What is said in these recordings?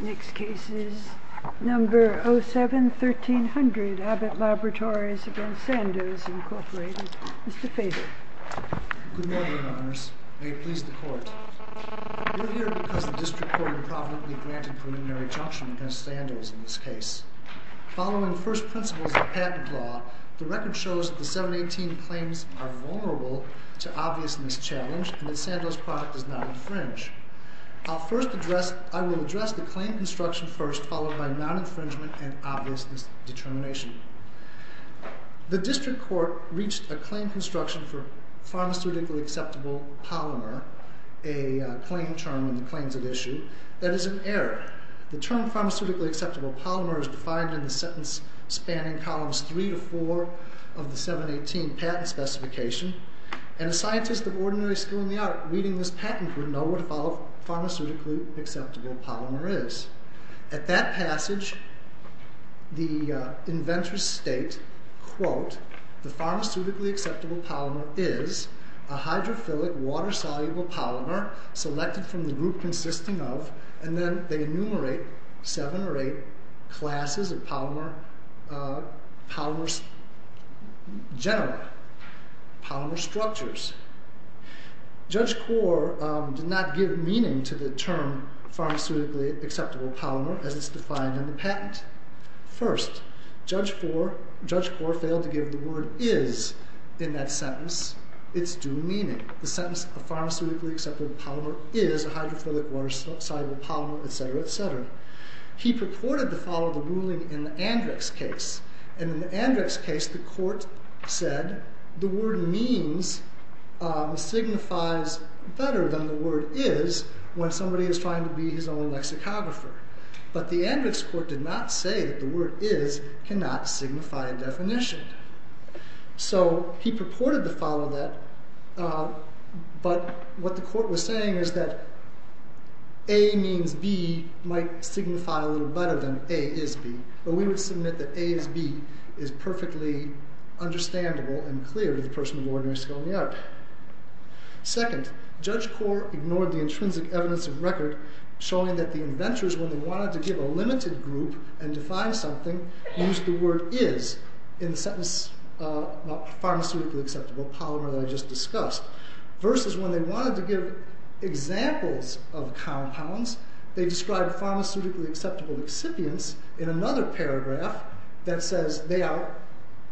Next case is number 07-1300 Abbott Laboratories v. Sandoz, Inc. Mr. Feder Good morning, Your Honors. May it please the Court. We are here because the District Court improperly granted preliminary junction against Sandoz in this case. Following first principles of patent law, the record shows that the 718 claims are vulnerable to obvious mischallenge and that Sandoz's product is not infringed. I will address the claim construction first, followed by non-infringement and obviousness determination. The District Court reached a claim construction for pharmaceutically acceptable polymer, a claim term in the claims at issue, that is an error. The term pharmaceutically acceptable polymer is defined in the sentence spanning columns 3 to 4 of the 718 patent specification, and a scientist of ordinary skill in the art reading this patent would know what a pharmaceutically acceptable polymer is. At that passage, the inventors state, quote, The pharmaceutically acceptable polymer is a hydrophilic water-soluble polymer selected from the group consisting of, and then they enumerate seven or eight classes of polymer structures. Judge Kaur did not give meaning to the term pharmaceutically acceptable polymer as it is defined in the patent. First, Judge Kaur failed to give the word is in that sentence its due meaning. The sentence, a pharmaceutically acceptable polymer is a hydrophilic water-soluble polymer, et cetera, et cetera. He purported to follow the ruling in the Andrix case, and in the Andrix case the court said the word means signifies better than the word is when somebody is trying to be his own lexicographer. But the Andrix court did not say that the word is cannot signify a definition. So he purported to follow that, but what the court was saying is that a means b might signify a little better than a is b, but we would submit that a is b is perfectly understandable and clear to the person of ordinary skill in the art. Second, Judge Kaur ignored the intrinsic evidence of record showing that the inventors, when they wanted to give a limited group and define something, used the word is in the sentence of a pharmaceutically acceptable polymer that I just discussed. Versus when they wanted to give examples of compounds, they described pharmaceutically acceptable excipients in another paragraph that says they are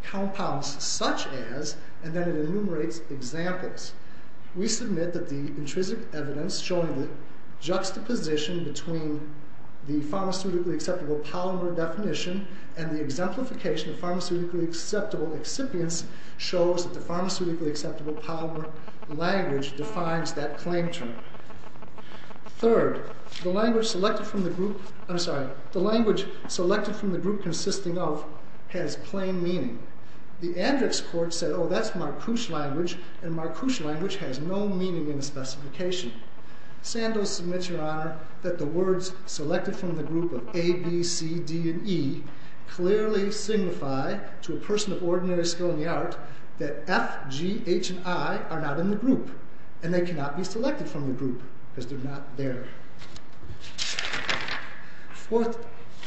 compounds such as, and then it enumerates examples. We submit that the intrinsic evidence showing the juxtaposition between the pharmaceutically acceptable polymer definition and the exemplification of pharmaceutically acceptable excipients shows that the pharmaceutically acceptable polymer language defines that claim term. Third, the language selected from the group consisting of has plain meaning. The Andrix court said, oh, that's Marcouche language, and Marcouche language has no meaning in the specification. Sandoz submits, Your Honor, that the words selected from the group of a, b, c, d, and e clearly signify to a person of ordinary skill in the art that f, g, h, and i are not in the group and they cannot be selected from the group because they're not there. Fourth,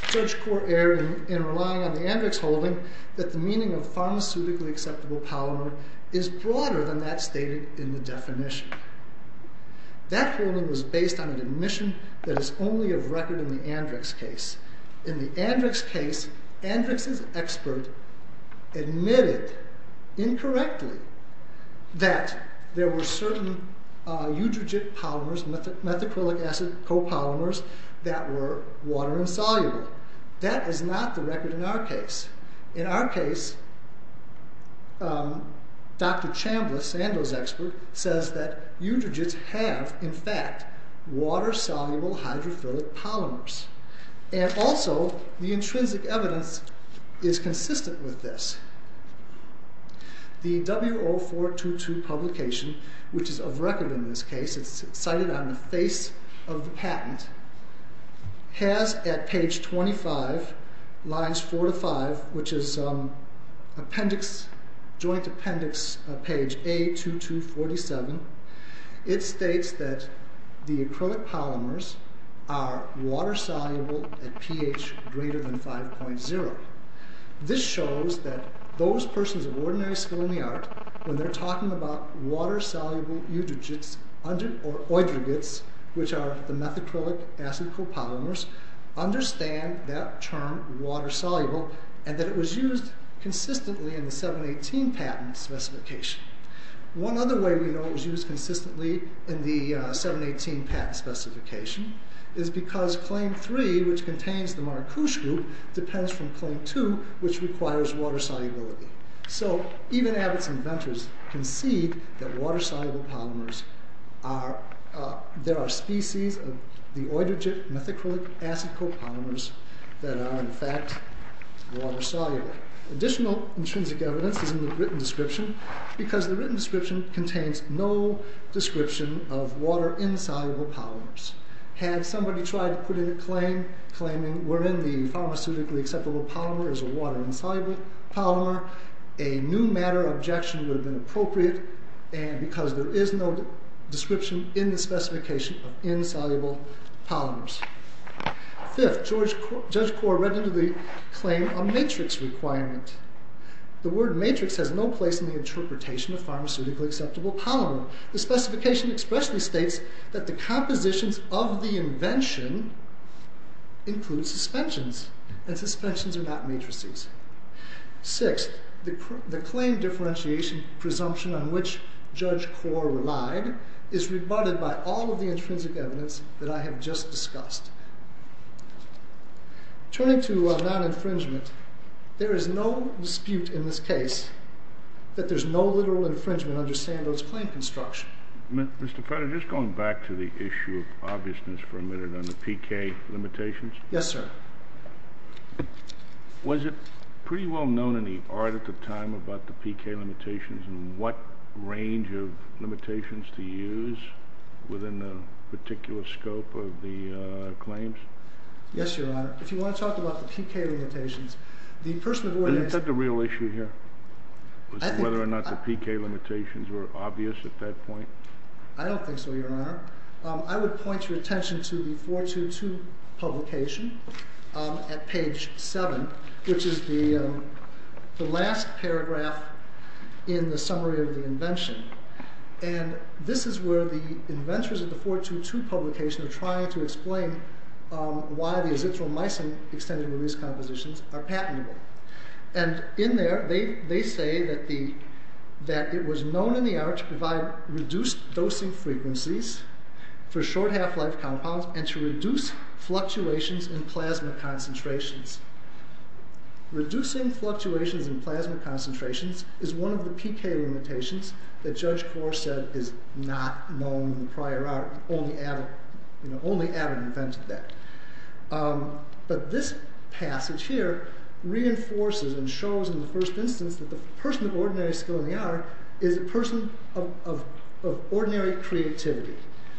judge court erred in relying on the Andrix holding that the meaning of pharmaceutically acceptable polymer is broader than that stated in the definition. That holding was based on an admission that is only of record in the Andrix case. In the Andrix case, Andrix's expert admitted incorrectly that there were certain eutrogyte polymers, methacrylic acid copolymers, that were water insoluble. That is not the record in our case. In our case, Dr. Chambliss, Sandoz's expert, says that eutrogytes have, in fact, water-soluble hydrophilic polymers. And also, the intrinsic evidence is consistent with this. The W0422 publication, which is of record in this case, it's cited on the face of the patent, has at page 25, lines 4 to 5, which is appendix, joint appendix, page A2247, it states that the acrylic polymers are water-soluble at pH greater than 5.0. This shows that those persons of ordinary skill in the art, when they're talking about water-soluble eutrogytes, or eutrogytes, which are the methacrylic acid copolymers, understand that term, water-soluble, and that it was used consistently in the 718 patent specification. One other way we know it was used consistently in the 718 patent specification is because claim 3, which contains the Marcouche group, depends from claim 2, which requires water-solubility. So, even Abbott's inventors concede that water-soluble polymers are, there are species of the eutrogyte methacrylic acid copolymers that are, in fact, water-soluble. Additional intrinsic evidence is in the written description, because the written description contains no description of water-insoluble polymers. Had somebody tried to put in a claim claiming, wherein the pharmaceutically acceptable polymer is a water-insoluble polymer, a new matter objection would have been appropriate, because there is no description in the specification of insoluble polymers. Fifth, Judge Core read into the claim a matrix requirement. The word matrix has no place in the interpretation of pharmaceutically acceptable polymer. The specification expressly states that the compositions of the invention include suspensions, and suspensions are not matrices. Sixth, the claim differentiation presumption on which Judge Core relied is rebutted by all of the intrinsic evidence that I have just discussed. Turning to non-infringement, there is no dispute in this case that there's no literal infringement under Sandow's claim construction. Mr. Fetter, just going back to the issue of obviousness for a minute on the PK limitations. Yes, sir. Was it pretty well known in the art at the time about the PK limitations and what range of limitations to use within the particular scope of the claims? Yes, Your Honor. If you want to talk about the PK limitations, the person who organized... Is that the real issue here, whether or not the PK limitations were obvious at that point? I don't think so, Your Honor. I would point your attention to the 422 publication at page 7, which is the last paragraph in the summary of the invention. And this is where the inventors of the 422 publication are trying to explain why the azithromycin-extended release compositions are patentable. And in there, they say that it was known in the art to provide reduced dosing frequencies for short half-life compounds and to reduce fluctuations in plasma concentrations. Reducing fluctuations in plasma concentrations is one of the PK limitations that Judge Kaur said is not known in the prior art. Only Adam invented that. But this passage here reinforces and shows in the first instance that the person of ordinary skill in the art is a person of ordinary creativity.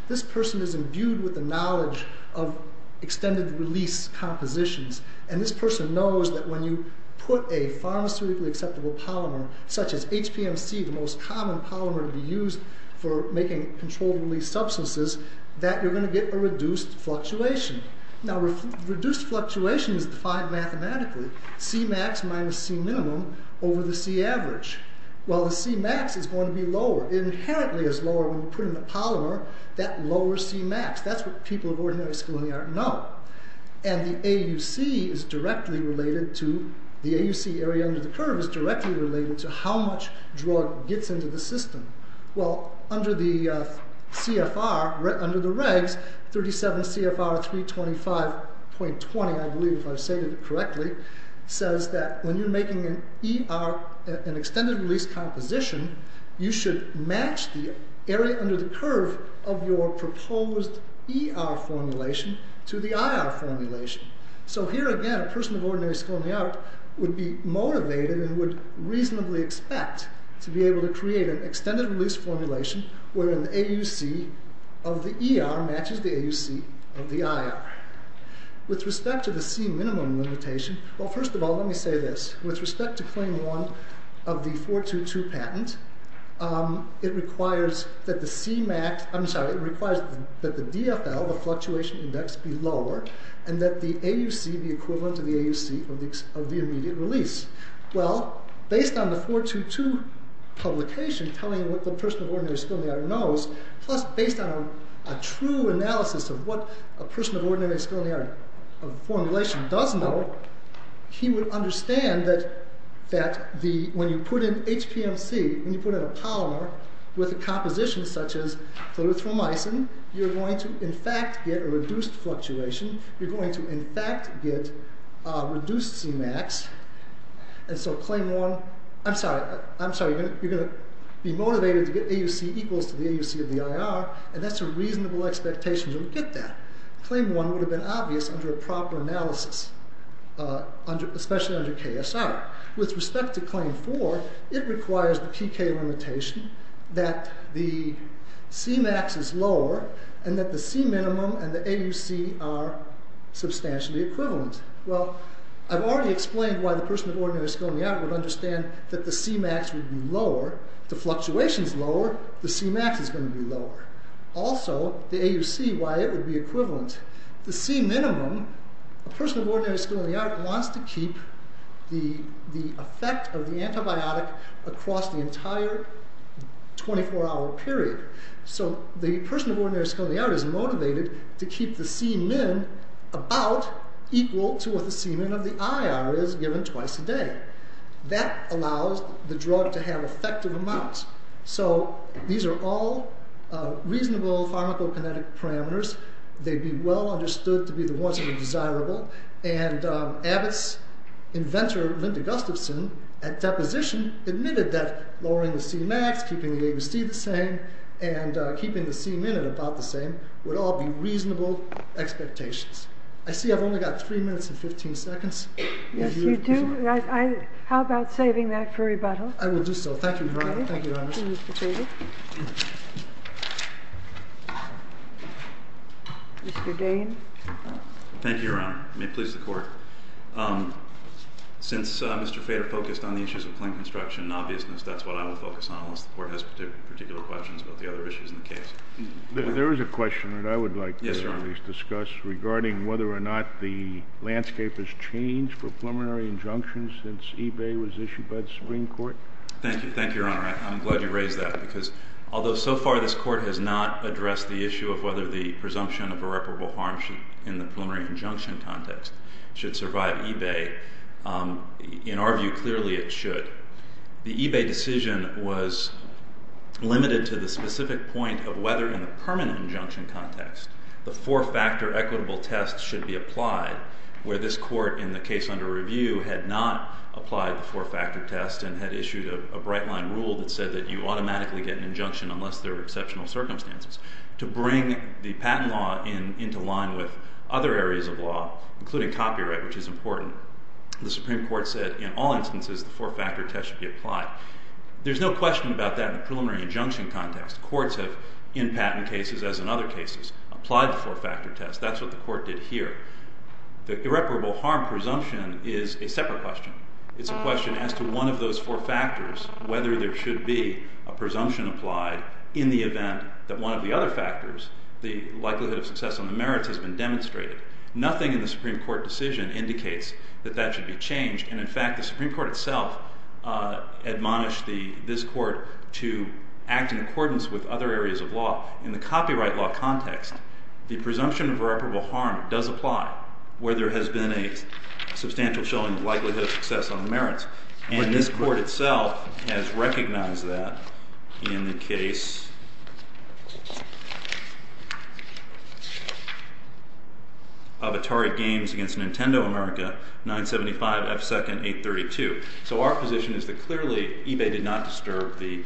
This person is imbued with the knowledge of extended release compositions, and this person knows that when you put a pharmaceutically acceptable polymer, such as HPMC, the most common polymer to be used for making controlled-release substances, that you're going to get a reduced fluctuation. Now, reduced fluctuation is defined mathematically. C-max minus C-minimum over the C-average. Well, the C-max is going to be lower. It inherently is lower when you put in the polymer that lower C-max. That's what people of ordinary skill in the art know. And the AUC is directly related to the AUC area under the curve is directly related to how much drug gets into the system. Well, under the CFR, under the regs, 37 CFR 325.20, I believe, if I've stated it correctly, says that when you're making an ER, an extended-release composition, you should match the area under the curve of your proposed ER formulation to the IR formulation. So here again, a person of ordinary skill in the art would be motivated and would reasonably expect to be able to create an extended-release formulation where an AUC of the ER matches the AUC of the IR. With respect to the C-minimum limitation, well, first of all, let me say this. With respect to Claim 1 of the 422 patent, it requires that the C-max, I'm sorry, it requires that the DFL, the fluctuation index, be lower, and that the AUC be equivalent to the AUC of the immediate release. Well, based on the 422 publication telling what the person of ordinary skill in the art knows, plus based on a true analysis of what a person of ordinary skill in the art formulation does know, he would understand that when you put in HPMC, when you put in a polymer with a composition such as And so Claim 1, I'm sorry, you're going to be motivated to get AUC equals to the AUC of the IR, and that's a reasonable expectation you'll get that. Claim 1 would have been obvious under a proper analysis, especially under KSR. With respect to Claim 4, it requires the PK limitation that the C-max is lower and that the C-minimum and the AUC are substantially equivalent. Well, I've already explained why the person of ordinary skill in the art would understand that the C-max would be lower. If the fluctuation is lower, the C-max is going to be lower. Also, the AUC, why it would be equivalent. The C-minimum, a person of ordinary skill in the art wants to keep the effect of the antibiotic across the entire 24-hour period. So the person of ordinary skill in the art is motivated to keep the C-min about equal to what the C-min of the IR is given twice a day. That allows the drug to have effective amounts. So these are all reasonable pharmacokinetic parameters. They'd be well understood to be the ones that are desirable. And Abbott's inventor, Linda Gustafson, at deposition admitted that lowering the C-max, keeping the AUC the same, and keeping the C-min about the same would all be reasonable expectations. I see I've only got 3 minutes and 15 seconds. Yes, you do. How about saving that for rebuttal? I will do so. Thank you, Your Honor. Thank you, Your Honor. Thank you, Mr. Fader. Mr. Dane. Thank you, Your Honor. May it please the Court. Since Mr. Fader focused on the issues of plain construction and obviousness, that's what I will focus on unless the Court has particular questions about the other issues in the case. There is a question that I would like to at least discuss regarding whether or not the landscape has changed for preliminary injunctions since eBay was issued by the Supreme Court. Thank you. Thank you, Your Honor. I'm glad you raised that because although so far this Court has not addressed the issue of whether the presumption of irreparable harm in the preliminary injunction context should survive eBay, in our view, clearly it should. The eBay decision was limited to the specific point of whether in a permanent injunction context the four-factor equitable test should be applied, where this Court in the case under review had not applied the four-factor test and had issued a bright-line rule that said that you automatically get an injunction unless there are exceptional circumstances, to bring the patent law into line with other areas of law, including copyright, which is important. The Supreme Court said in all instances the four-factor test should be applied. There's no question about that in the preliminary injunction context. Courts have, in patent cases as in other cases, applied the four-factor test. That's what the Court did here. The irreparable harm presumption is a separate question. It's a question as to one of those four factors, whether there should be a presumption applied in the event that one of the other factors, the likelihood of success on the merits, has been demonstrated. Nothing in the Supreme Court decision indicates that that should be changed, and in fact the Supreme Court itself admonished this Court to act in accordance with other areas of law. In the copyright law context, the presumption of irreparable harm does apply, where there has been a substantial showing of likelihood of success on the merits, and this Court itself has recognized that in the case of Atari Games against Nintendo America, 975F2nd832. So our position is that clearly eBay did not disturb the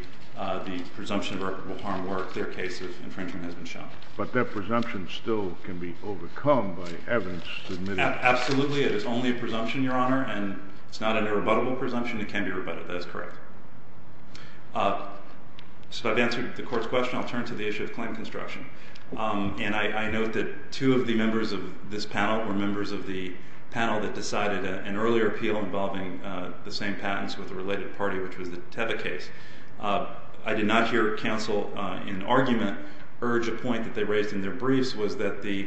presumption of irreparable harm work. Their case of infringement has been shown. But that presumption still can be overcome by evidence submitted. Absolutely, it is only a presumption, Your Honor, and it's not an irrebuttable presumption. It can be rebutted. That is correct. So I've answered the Court's question. I'll turn to the issue of claim construction. And I note that two of the members of this panel were members of the panel that decided an earlier appeal involving the same patents with a related party, which was the Teva case. I did not hear counsel in argument urge a point that they raised in their briefs, was that the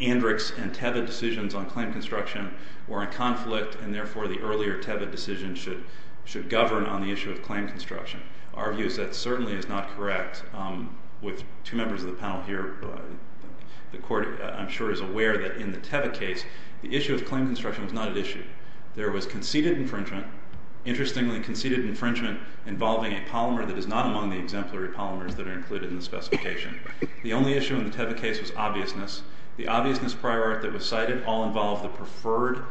Andrix and Teva decisions on claim construction were in conflict, and therefore the earlier Teva decision should govern on the issue of claim construction. Our view is that certainly is not correct. With two members of the panel here, the Court, I'm sure, is aware that in the Teva case, the issue of claim construction was not at issue. There was conceded infringement, interestingly conceded infringement, involving a polymer that is not among the exemplary polymers that are included in the specification. The only issue in the Teva case was obviousness. The obviousness prior art that was cited all involved the preferred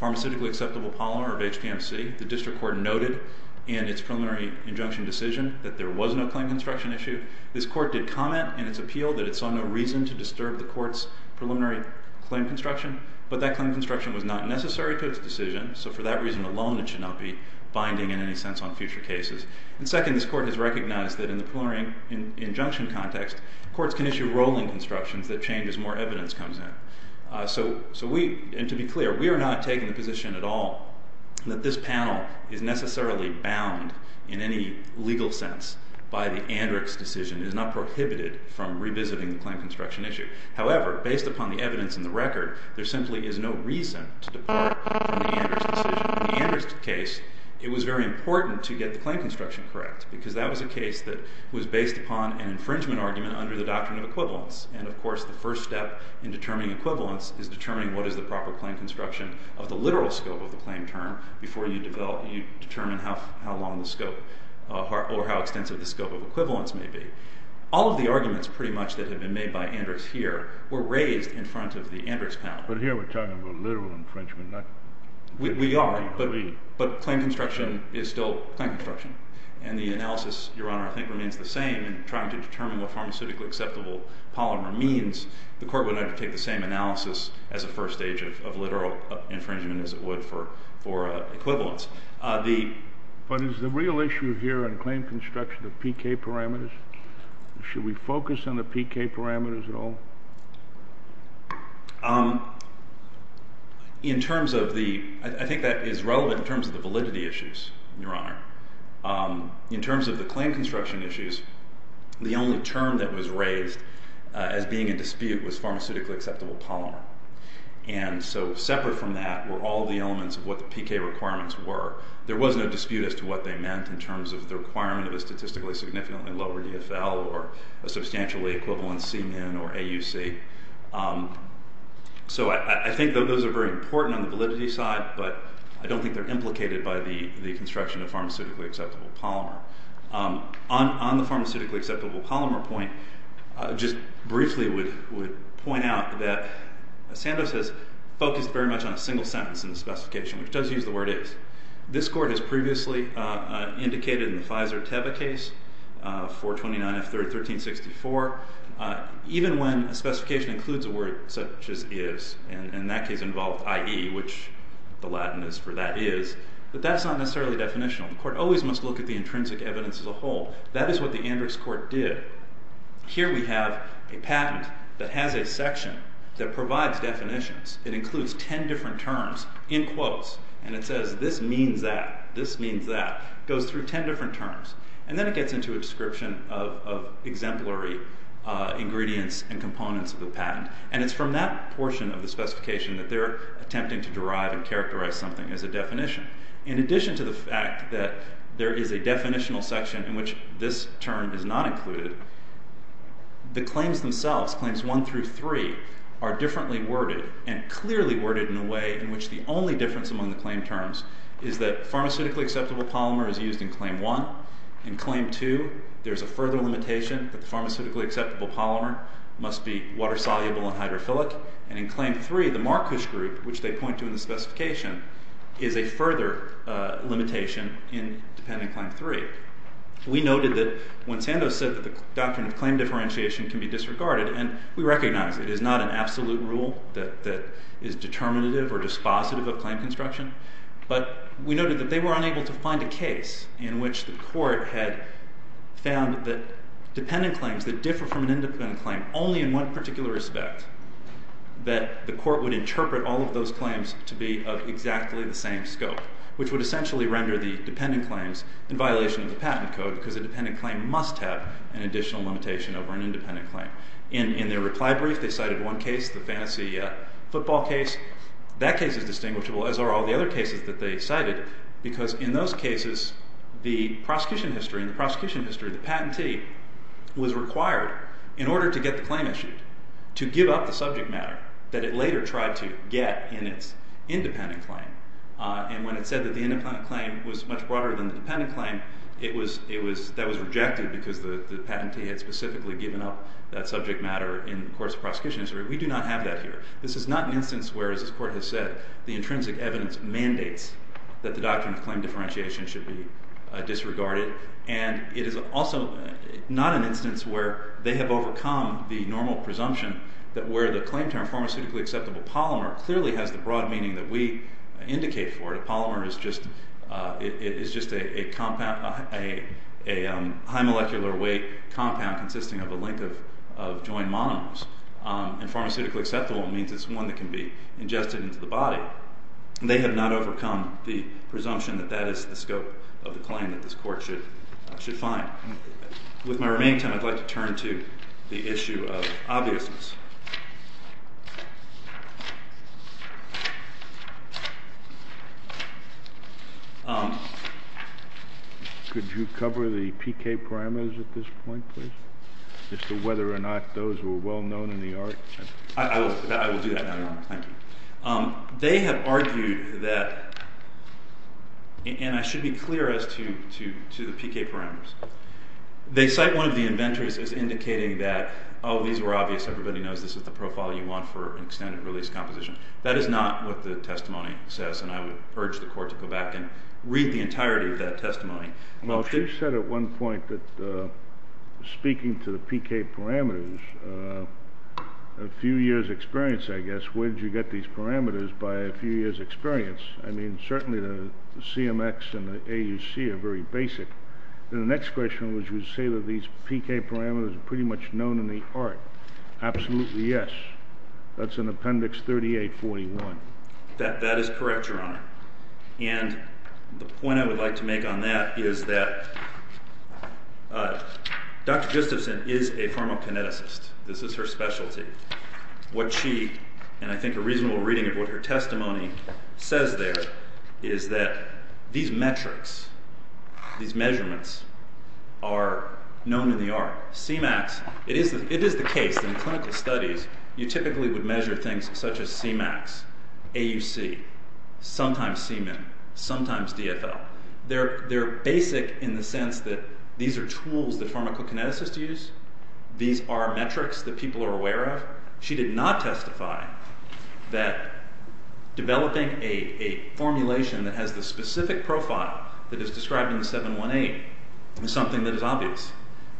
pharmaceutically acceptable polymer of HPMC. The District Court noted in its preliminary injunction decision that there was no claim construction issue. This Court did comment in its appeal that it saw no reason to disturb the Court's preliminary claim construction, but that claim construction was not necessary to its decision, so for that reason alone it should not be binding in any sense on future cases. And second, this Court has recognized that in the preliminary injunction context, courts can issue rolling constructions that change as more evidence comes in. So we, and to be clear, we are not taking the position at all that this panel is necessarily bound in any legal sense by the Andrick's decision. It is not prohibited from revisiting the claim construction issue. However, based upon the evidence in the record, there simply is no reason to depart from the Andrick's decision. In the Andrick's case, it was very important to get the claim construction correct because that was a case that was based upon an infringement argument under the doctrine of equivalence. And of course the first step in determining equivalence is determining what is the proper claim construction of the literal scope of the claim term before you determine how long the scope, or how extensive the scope of equivalence may be. All of the arguments pretty much that have been made by Andrick's here were raised in front of the Andrick's panel. But here we're talking about literal infringement. We are, but claim construction is still claim construction. And the analysis, Your Honor, I think remains the same in trying to determine what pharmaceutically acceptable polymer means. The court would have to take the same analysis as a first stage of literal infringement as it would for equivalence. But is the real issue here in claim construction the PK parameters? Should we focus on the PK parameters at all? I think that is relevant in terms of the validity issues, Your Honor. In terms of the claim construction issues, the only term that was raised as being in dispute was pharmaceutically acceptable polymer. And so separate from that were all the elements of what the PK requirements were. There was no dispute as to what they meant in terms of the requirement of a statistically significantly lower EFL or a substantially equivalent Cmin or AUC. So I think that those are very important on the validity side, but I don't think they're implicated by the construction of pharmaceutically acceptable polymer. On the pharmaceutically acceptable polymer point, I just briefly would point out that Sandoz has focused very much on a single sentence in the specification, which does use the word is. This court has previously indicated in the Pfizer-Teva case, 429F1364, even when a specification includes a word such as is, and in that case involved IE, which the Latin is for that is, that that's not necessarily definitional. The court always must look at the intrinsic evidence as a whole. That is what the Andrix Court did. Here we have a patent that has a section that provides definitions. It includes 10 different terms in quotes, and it says this means that, this means that. It goes through 10 different terms, and then it gets into a description of exemplary ingredients and components of the patent, and it's from that portion of the specification that they're attempting to derive and characterize something as a definition. In addition to the fact that there is a definitional section in which this term is not included, the claims themselves, claims 1 through 3, are differently worded and clearly worded in a way in which the only difference among the claim terms is that pharmaceutically acceptable polymer is used in claim 1, in claim 2 there's a further limitation that the pharmaceutically acceptable polymer must be water-soluble and hydrophilic, and in claim 3 the Markus Group, which they point to in the specification, is a further limitation in dependent claim 3. We noted that when Sandoz said that the doctrine of claim differentiation can be disregarded, and we recognize it is not an absolute rule that is determinative or dispositive of claim construction, but we noted that they were unable to find a case in which the court had found that dependent claims that differ from an independent claim only in one particular respect, that the court would interpret all of those claims to be of exactly the same scope, which would essentially render the dependent claims in violation of the patent code, because a dependent claim must have an additional limitation over an independent claim. In their reply brief they cited one case, the fantasy football case. That case is distinguishable, as are all the other cases that they cited, because in those cases, the prosecution history, the patentee, was required, in order to get the claim issued, to give up the subject matter that it later tried to get in its independent claim. And when it said that the independent claim was much broader than the dependent claim, that was rejected, because the patentee had specifically given up that subject matter in the court's prosecution history. We do not have that here. This is not an instance where, as this Court has said, the intrinsic evidence mandates that the doctrine of claim differentiation should be disregarded. And it is also not an instance where they have overcome the normal presumption that where the claim term, pharmaceutically acceptable polymer, clearly has the broad meaning that we indicate for it. A polymer is just a compound, a high molecular weight compound consisting of a link of joined monomers. And pharmaceutically acceptable means is one that can be ingested into the body. They have not overcome the presumption that that is the scope of the claim that this Court should find. With my remaining time, I'd like to turn to the issue of obviousness. Could you cover the PK parameters at this point, please? As to whether or not those were well known in the art? I will do that now, Your Honor. Thank you. They have argued that, and I should be clear as to the PK parameters, they cite one of the inventories as indicating that oh, these were obvious, everybody knows this is the profile you want for an extended release composition. That is not what the testimony says, and I would urge the Court to go back and read the entirety of that testimony. Well, she said at one point that, speaking to the PK parameters, a few years' experience, I guess, where did you get these parameters by a few years' experience? I mean, certainly the CMX and the AUC are very basic. And the next question was, you say that these PK parameters are pretty much known in the art. Absolutely, yes. That's in Appendix 3841. That is correct, Your Honor. And the point I would like to make on that is that Dr. Gustafson is a pharmacokineticist. This is her specialty. What she, and I think a reasonable reading of what her testimony says there, is that these metrics, are known in the art. CMAX, it is the case in clinical studies, you typically would measure things such as CMAX, AUC, sometimes CMIN, sometimes DFL. They're basic in the sense that these are tools that pharmacokineticists use. These are metrics that people are aware of. She did not testify that developing a formulation that has the specific profile that is described in 718 is something that is obvious.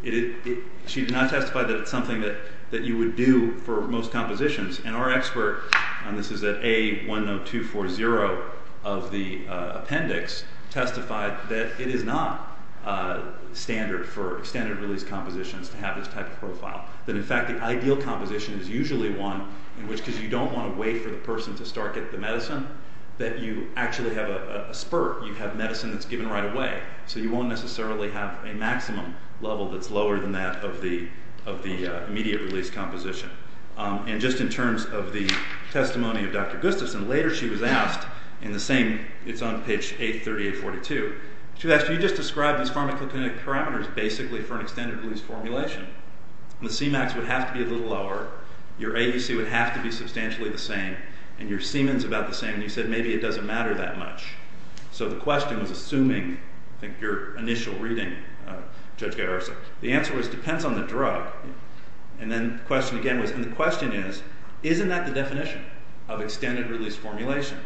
She did not testify that it's something that you would do for most compositions. And our expert, and this is at A10240 of the appendix, testified that it is not standard for standard release compositions to have this type of profile. That in fact the ideal composition is usually one in which, because you don't want to wait for the person to start getting the medicine, that you actually have a spurt. You have medicine that's given right away. So you won't necessarily have a maximum level that's lower than that of the immediate release composition. And just in terms of the testimony of Dr. Gustafson, later she was asked, in the same, it's on page 83842, she was asked, you just described these pharmacokinetic parameters basically for an extended release formulation. The C-max would have to be a little lower, your AEC would have to be substantially the same, and your Siemens about the same, and you said maybe it doesn't matter that much. So the question was assuming, I think your initial reading, Judge Garrison, the answer was it depends on the drug. And then the question again was, and the question is, isn't that the definition of extended release formulation?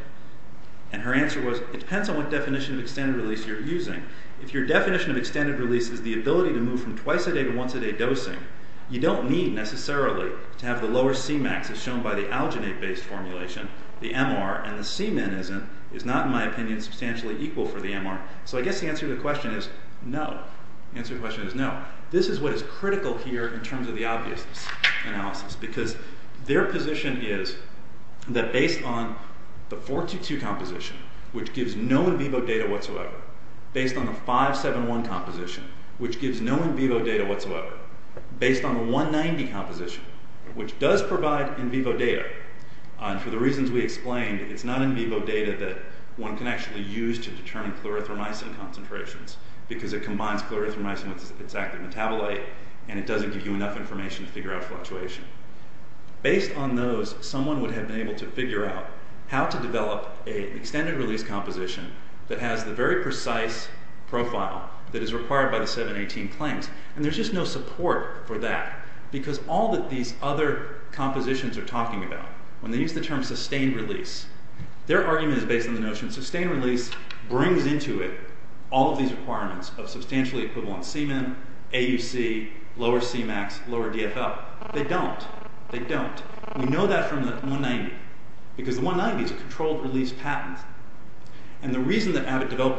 And her answer was, it depends on what definition of extended release you're using. If your definition of extended release is the ability to move from twice a day to once a day dosing, you don't need necessarily to have the lower C-max as shown by the alginate-based formulation, the MR, and the Siemens is not, in my opinion, substantially equal for the MR. So I guess the answer to the question is no. The answer to the question is no. Now, this is what is critical here in terms of the obvious analysis, because their position is that based on the 4-2-2 composition, which gives no in vivo data whatsoever, based on the 5-7-1 composition, which gives no in vivo data whatsoever, based on the 1-90 composition, which does provide in vivo data, and for the reasons we explained, it's not in vivo data that one can actually use to determine clarithromycin concentrations, because it combines clarithromycin with its active metabolite, and it doesn't give you enough information to figure out fluctuation. Based on those, someone would have been able to figure out how to develop an extended release composition that has the very precise profile that is required by the 7-18 claims, and there's just no support for that, because all that these other compositions are talking about, when they use the term sustained release, their argument is based on the notion that this brings into it all of these requirements of substantially equivalent semen, AUC, lower C-max, lower DFL. They don't. They don't. We know that from the 1-90, because the 1-90 is a controlled release patent, and the reason that Abbott developed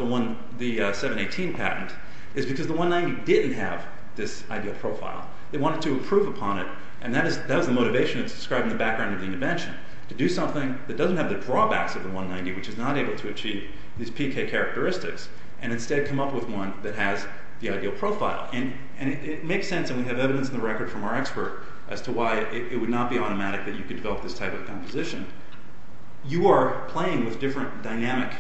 the 7-18 patent is because the 1-90 didn't have this ideal profile. They wanted to improve upon it, and that is the motivation that's described in the background of the intervention, to do something that doesn't have the drawbacks of the 1-90, which is not able to achieve these PK characteristics, and instead come up with one that has the ideal profile. And it makes sense, and we have evidence in the record from our expert as to why it would not be automatic that you could develop this type of composition. You are playing with different dynamic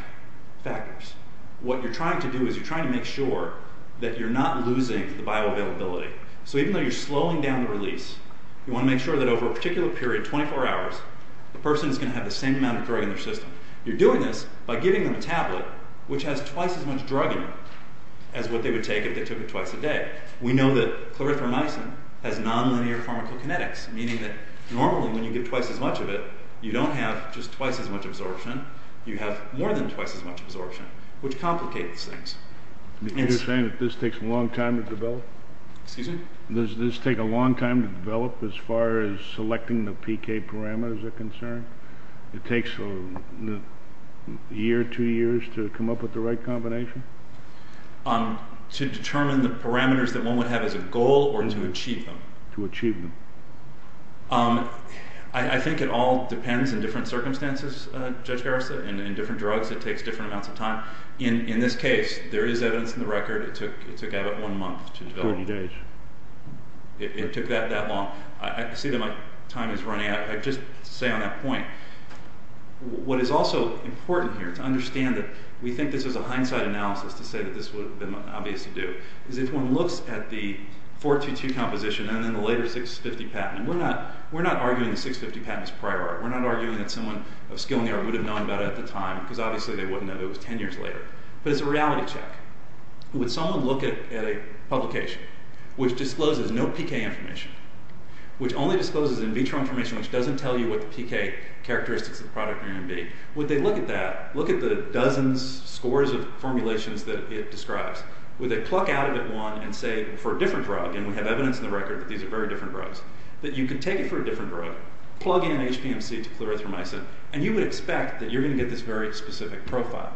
factors. What you're trying to do is you're trying to make sure that you're not losing the bioavailability. So even though you're slowing down the release, you want to make sure that over a particular period, 24 hours, the person is going to have the same amount of drug in their system. You're doing this by giving them a tablet, which has twice as much drug in it as what they would take if they took it twice a day. We know that clarithromycin has nonlinear pharmacokinetics, meaning that normally when you give twice as much of it, you don't have just twice as much absorption, you have more than twice as much absorption, which complicates things. You're saying that this takes a long time to develop? Excuse me? Does this take a long time to develop as far as selecting the PK parameters are concerned? It takes a year, two years, to come up with the right combination? To determine the parameters that one would have as a goal or to achieve them. To achieve them. I think it all depends in different circumstances, Judge Garrison, and in different drugs it takes different amounts of time. In this case, there is evidence in the record that it took about one month to develop. Forty days. It took that long. I see that my time is running out. I'd just say on that point, what is also important here to understand that we think this is a hindsight analysis to say that this would have been obvious to do, is if one looks at the 422 composition and then the later 650 patent, we're not arguing the 650 patent is prior art. We're not arguing that someone of skill in the art would have known about it at the time, because obviously they wouldn't have. It was ten years later. But it's a reality check. Would someone look at a publication which discloses no PK information, which only discloses in vitro information, which doesn't tell you what the PK characteristics of the product may be, would they look at that, look at the dozens, scores of formulations that it describes, would they pluck out of it one and say, for a different drug, and we have evidence in the record that these are very different drugs, that you could take it for a different drug, plug in HPMC to clarithromycin, and you would expect that you're going to get this very specific profile.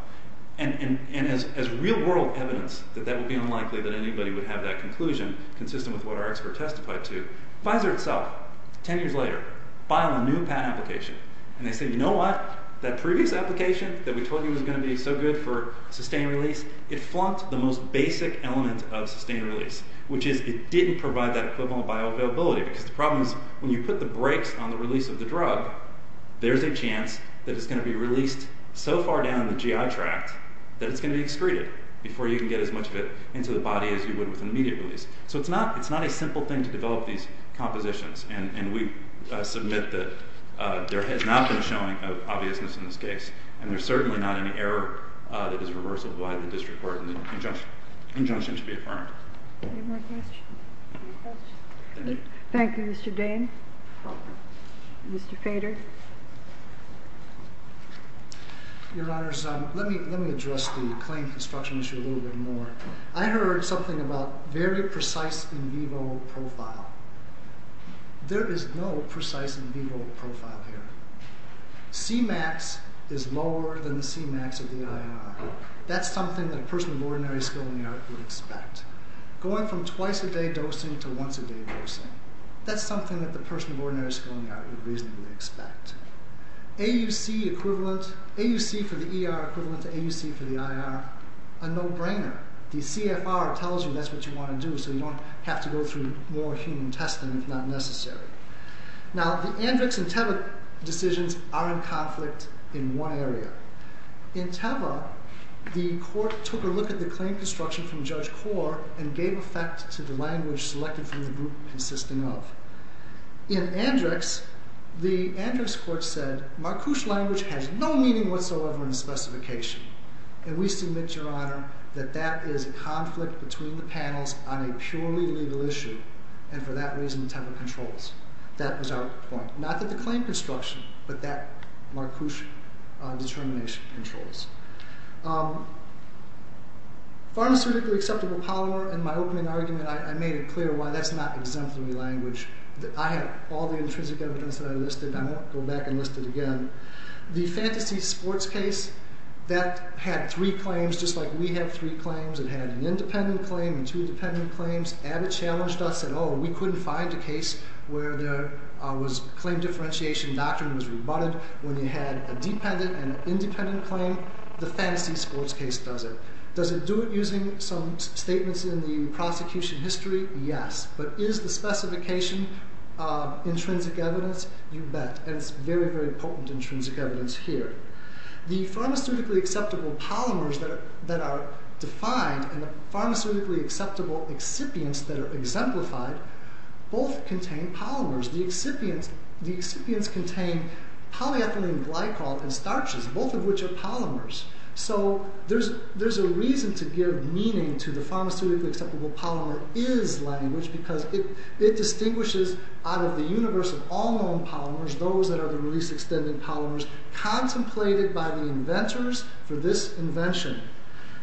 And as real-world evidence, that that would be unlikely that anybody would have that conclusion, consistent with what our expert testified to, Pfizer itself, ten years later, filed a new patent application, and they said, you know what, that previous application that we told you was going to be so good for sustained release, it flunked the most basic element of sustained release, which is it didn't provide that equivalent bioavailability, because the problem is, when you put the brakes on the release of the drug, there's a chance that it's going to be released so far down the GI tract that it's going to be excreted, before you can get as much of it into the body as you would with an immediate release. So it's not a simple thing to develop these compositions, and we submit that there has not been a showing of obviousness in this case, and there's certainly not any error that is reversible by the district court, and the injunction should be affirmed. Any more questions? Thank you, Mr. Dane. Mr. Fader. Your Honors, let me address the claim construction issue a little bit more. I heard something about very precise in vivo profile. There is no precise in vivo profile here. C-max is lower than the C-max of the INR. That's something that a person of ordinary skill in the art would expect. Going from twice a day dosing to once a day dosing, that's something that the person of ordinary skill in the art would reasonably expect. AUC for the ER equivalent to AUC for the IR, a no-brainer. The CFR tells you that's what you want to do, so you don't have to go through more human testing if not necessary. Now, the Andrix and Teva decisions are in conflict in one area. In Teva, the court took a look at the claim construction from Judge Kaur and gave effect to the language selected from the group consisting of. In Andrix, the Andrix court said, MarCouche language has no meaning whatsoever in the specification. And we submit, Your Honor, that that is a conflict between the panels on a purely legal issue. And for that reason, Teva controls. That was our point. Not that the claim construction, but that MarCouche determination controls. Pharmaceutically acceptable polymer, in my opening argument, I made it clear why that's not exemplary language. I have all the intrinsic evidence that I listed, and I won't go back and list it again. The fantasy sports case, that had three claims just like we have three claims. It had an independent claim and two independent claims. Abbott challenged us and said, Oh, we couldn't find a case where there was claim differentiation doctrine was rebutted when you had a dependent and an independent claim. The fantasy sports case doesn't. Does it do it using some statements in the prosecution history? Yes. But is the specification intrinsic evidence? You bet. And it's very, very potent intrinsic evidence here. The pharmaceutically acceptable polymers that are defined and the pharmaceutically acceptable excipients that are exemplified both contain polymers. The excipients contain polyethylene glycol and starches, both of which are polymers. So there's a reason to give meaning to the pharmaceutically acceptable polymer is language because it distinguishes out of the universe of all known polymers, those that are the release-extended polymers, contemplated by the inventors for this invention.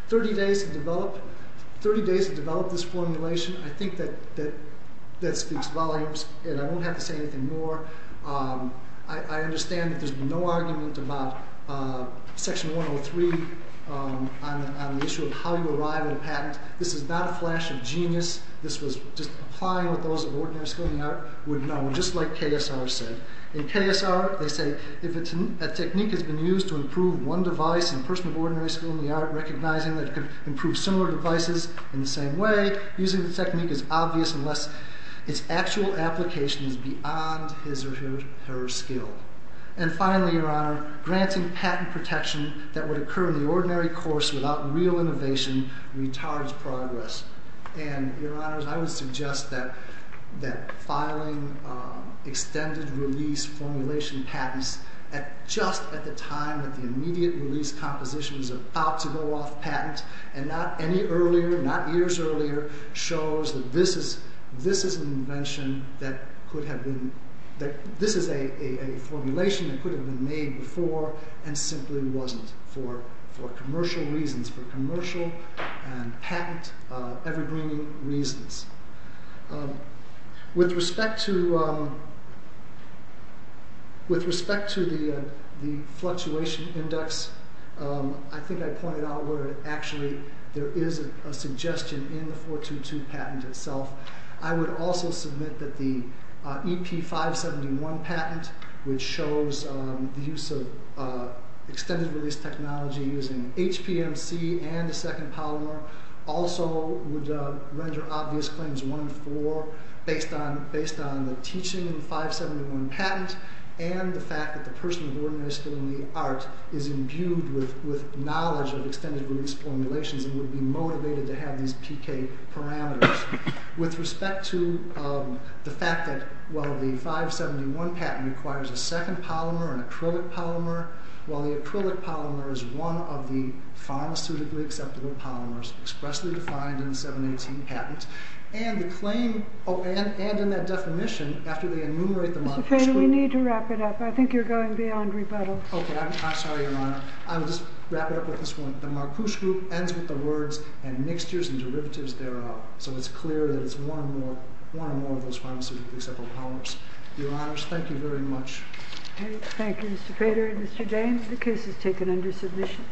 30 days to develop this formulation. I think that speaks volumes, and I won't have to say anything more. I understand that there's been no argument about Section 103 on the issue of how you arrive at a patent. This is not a flash of genius. This was just applying what those of ordinary skill in the art would know, just like KSR said. In KSR, they say if a technique has been used to improve one device, a person of ordinary skill in the art recognizing that it could improve similar devices in the same way using the technique is obvious unless its actual application is beyond his or her skill. And finally, Your Honor, granting patent protection that would occur in the ordinary course without real innovation retards progress. And, Your Honors, I would suggest that filing extended release formulation patents just at the time that the immediate release composition is about to go off patent and not any earlier, not years earlier, shows that this is an invention that could have been, that this is a formulation that could have been made before and simply wasn't for commercial reasons, for commercial and patent evergreen reasons. With respect to the fluctuation index, I think I pointed out where actually there is a suggestion in the 422 patent itself. I would also submit that the EP571 patent, which shows the use of extended release technology using HPMC and a second polymer, also would render obvious claims 1 and 4 based on the teaching in the 571 patent and the fact that the person who organized the art is imbued with knowledge of extended release formulations and would be motivated to have these PK parameters. With respect to the fact that while the 571 patent requires a second polymer, an acrylic polymer, while the acrylic polymer is one of the pharmaceutically acceptable polymers expressly defined in the 718 patent, and in that definition, after they enumerate the marcoosh group... Mr. Feder, we need to wrap it up. I think you're going beyond rebuttal. Okay, I'm sorry, Your Honor. I'll just wrap it up with this one. The marcoosh group ends with the words and mixtures and derivatives thereof. So it's clear that it's one or more of those pharmaceutically acceptable polymers. Your Honors, thank you very much. Thank you, Mr. Feder and Mr. James. The case is taken under submission.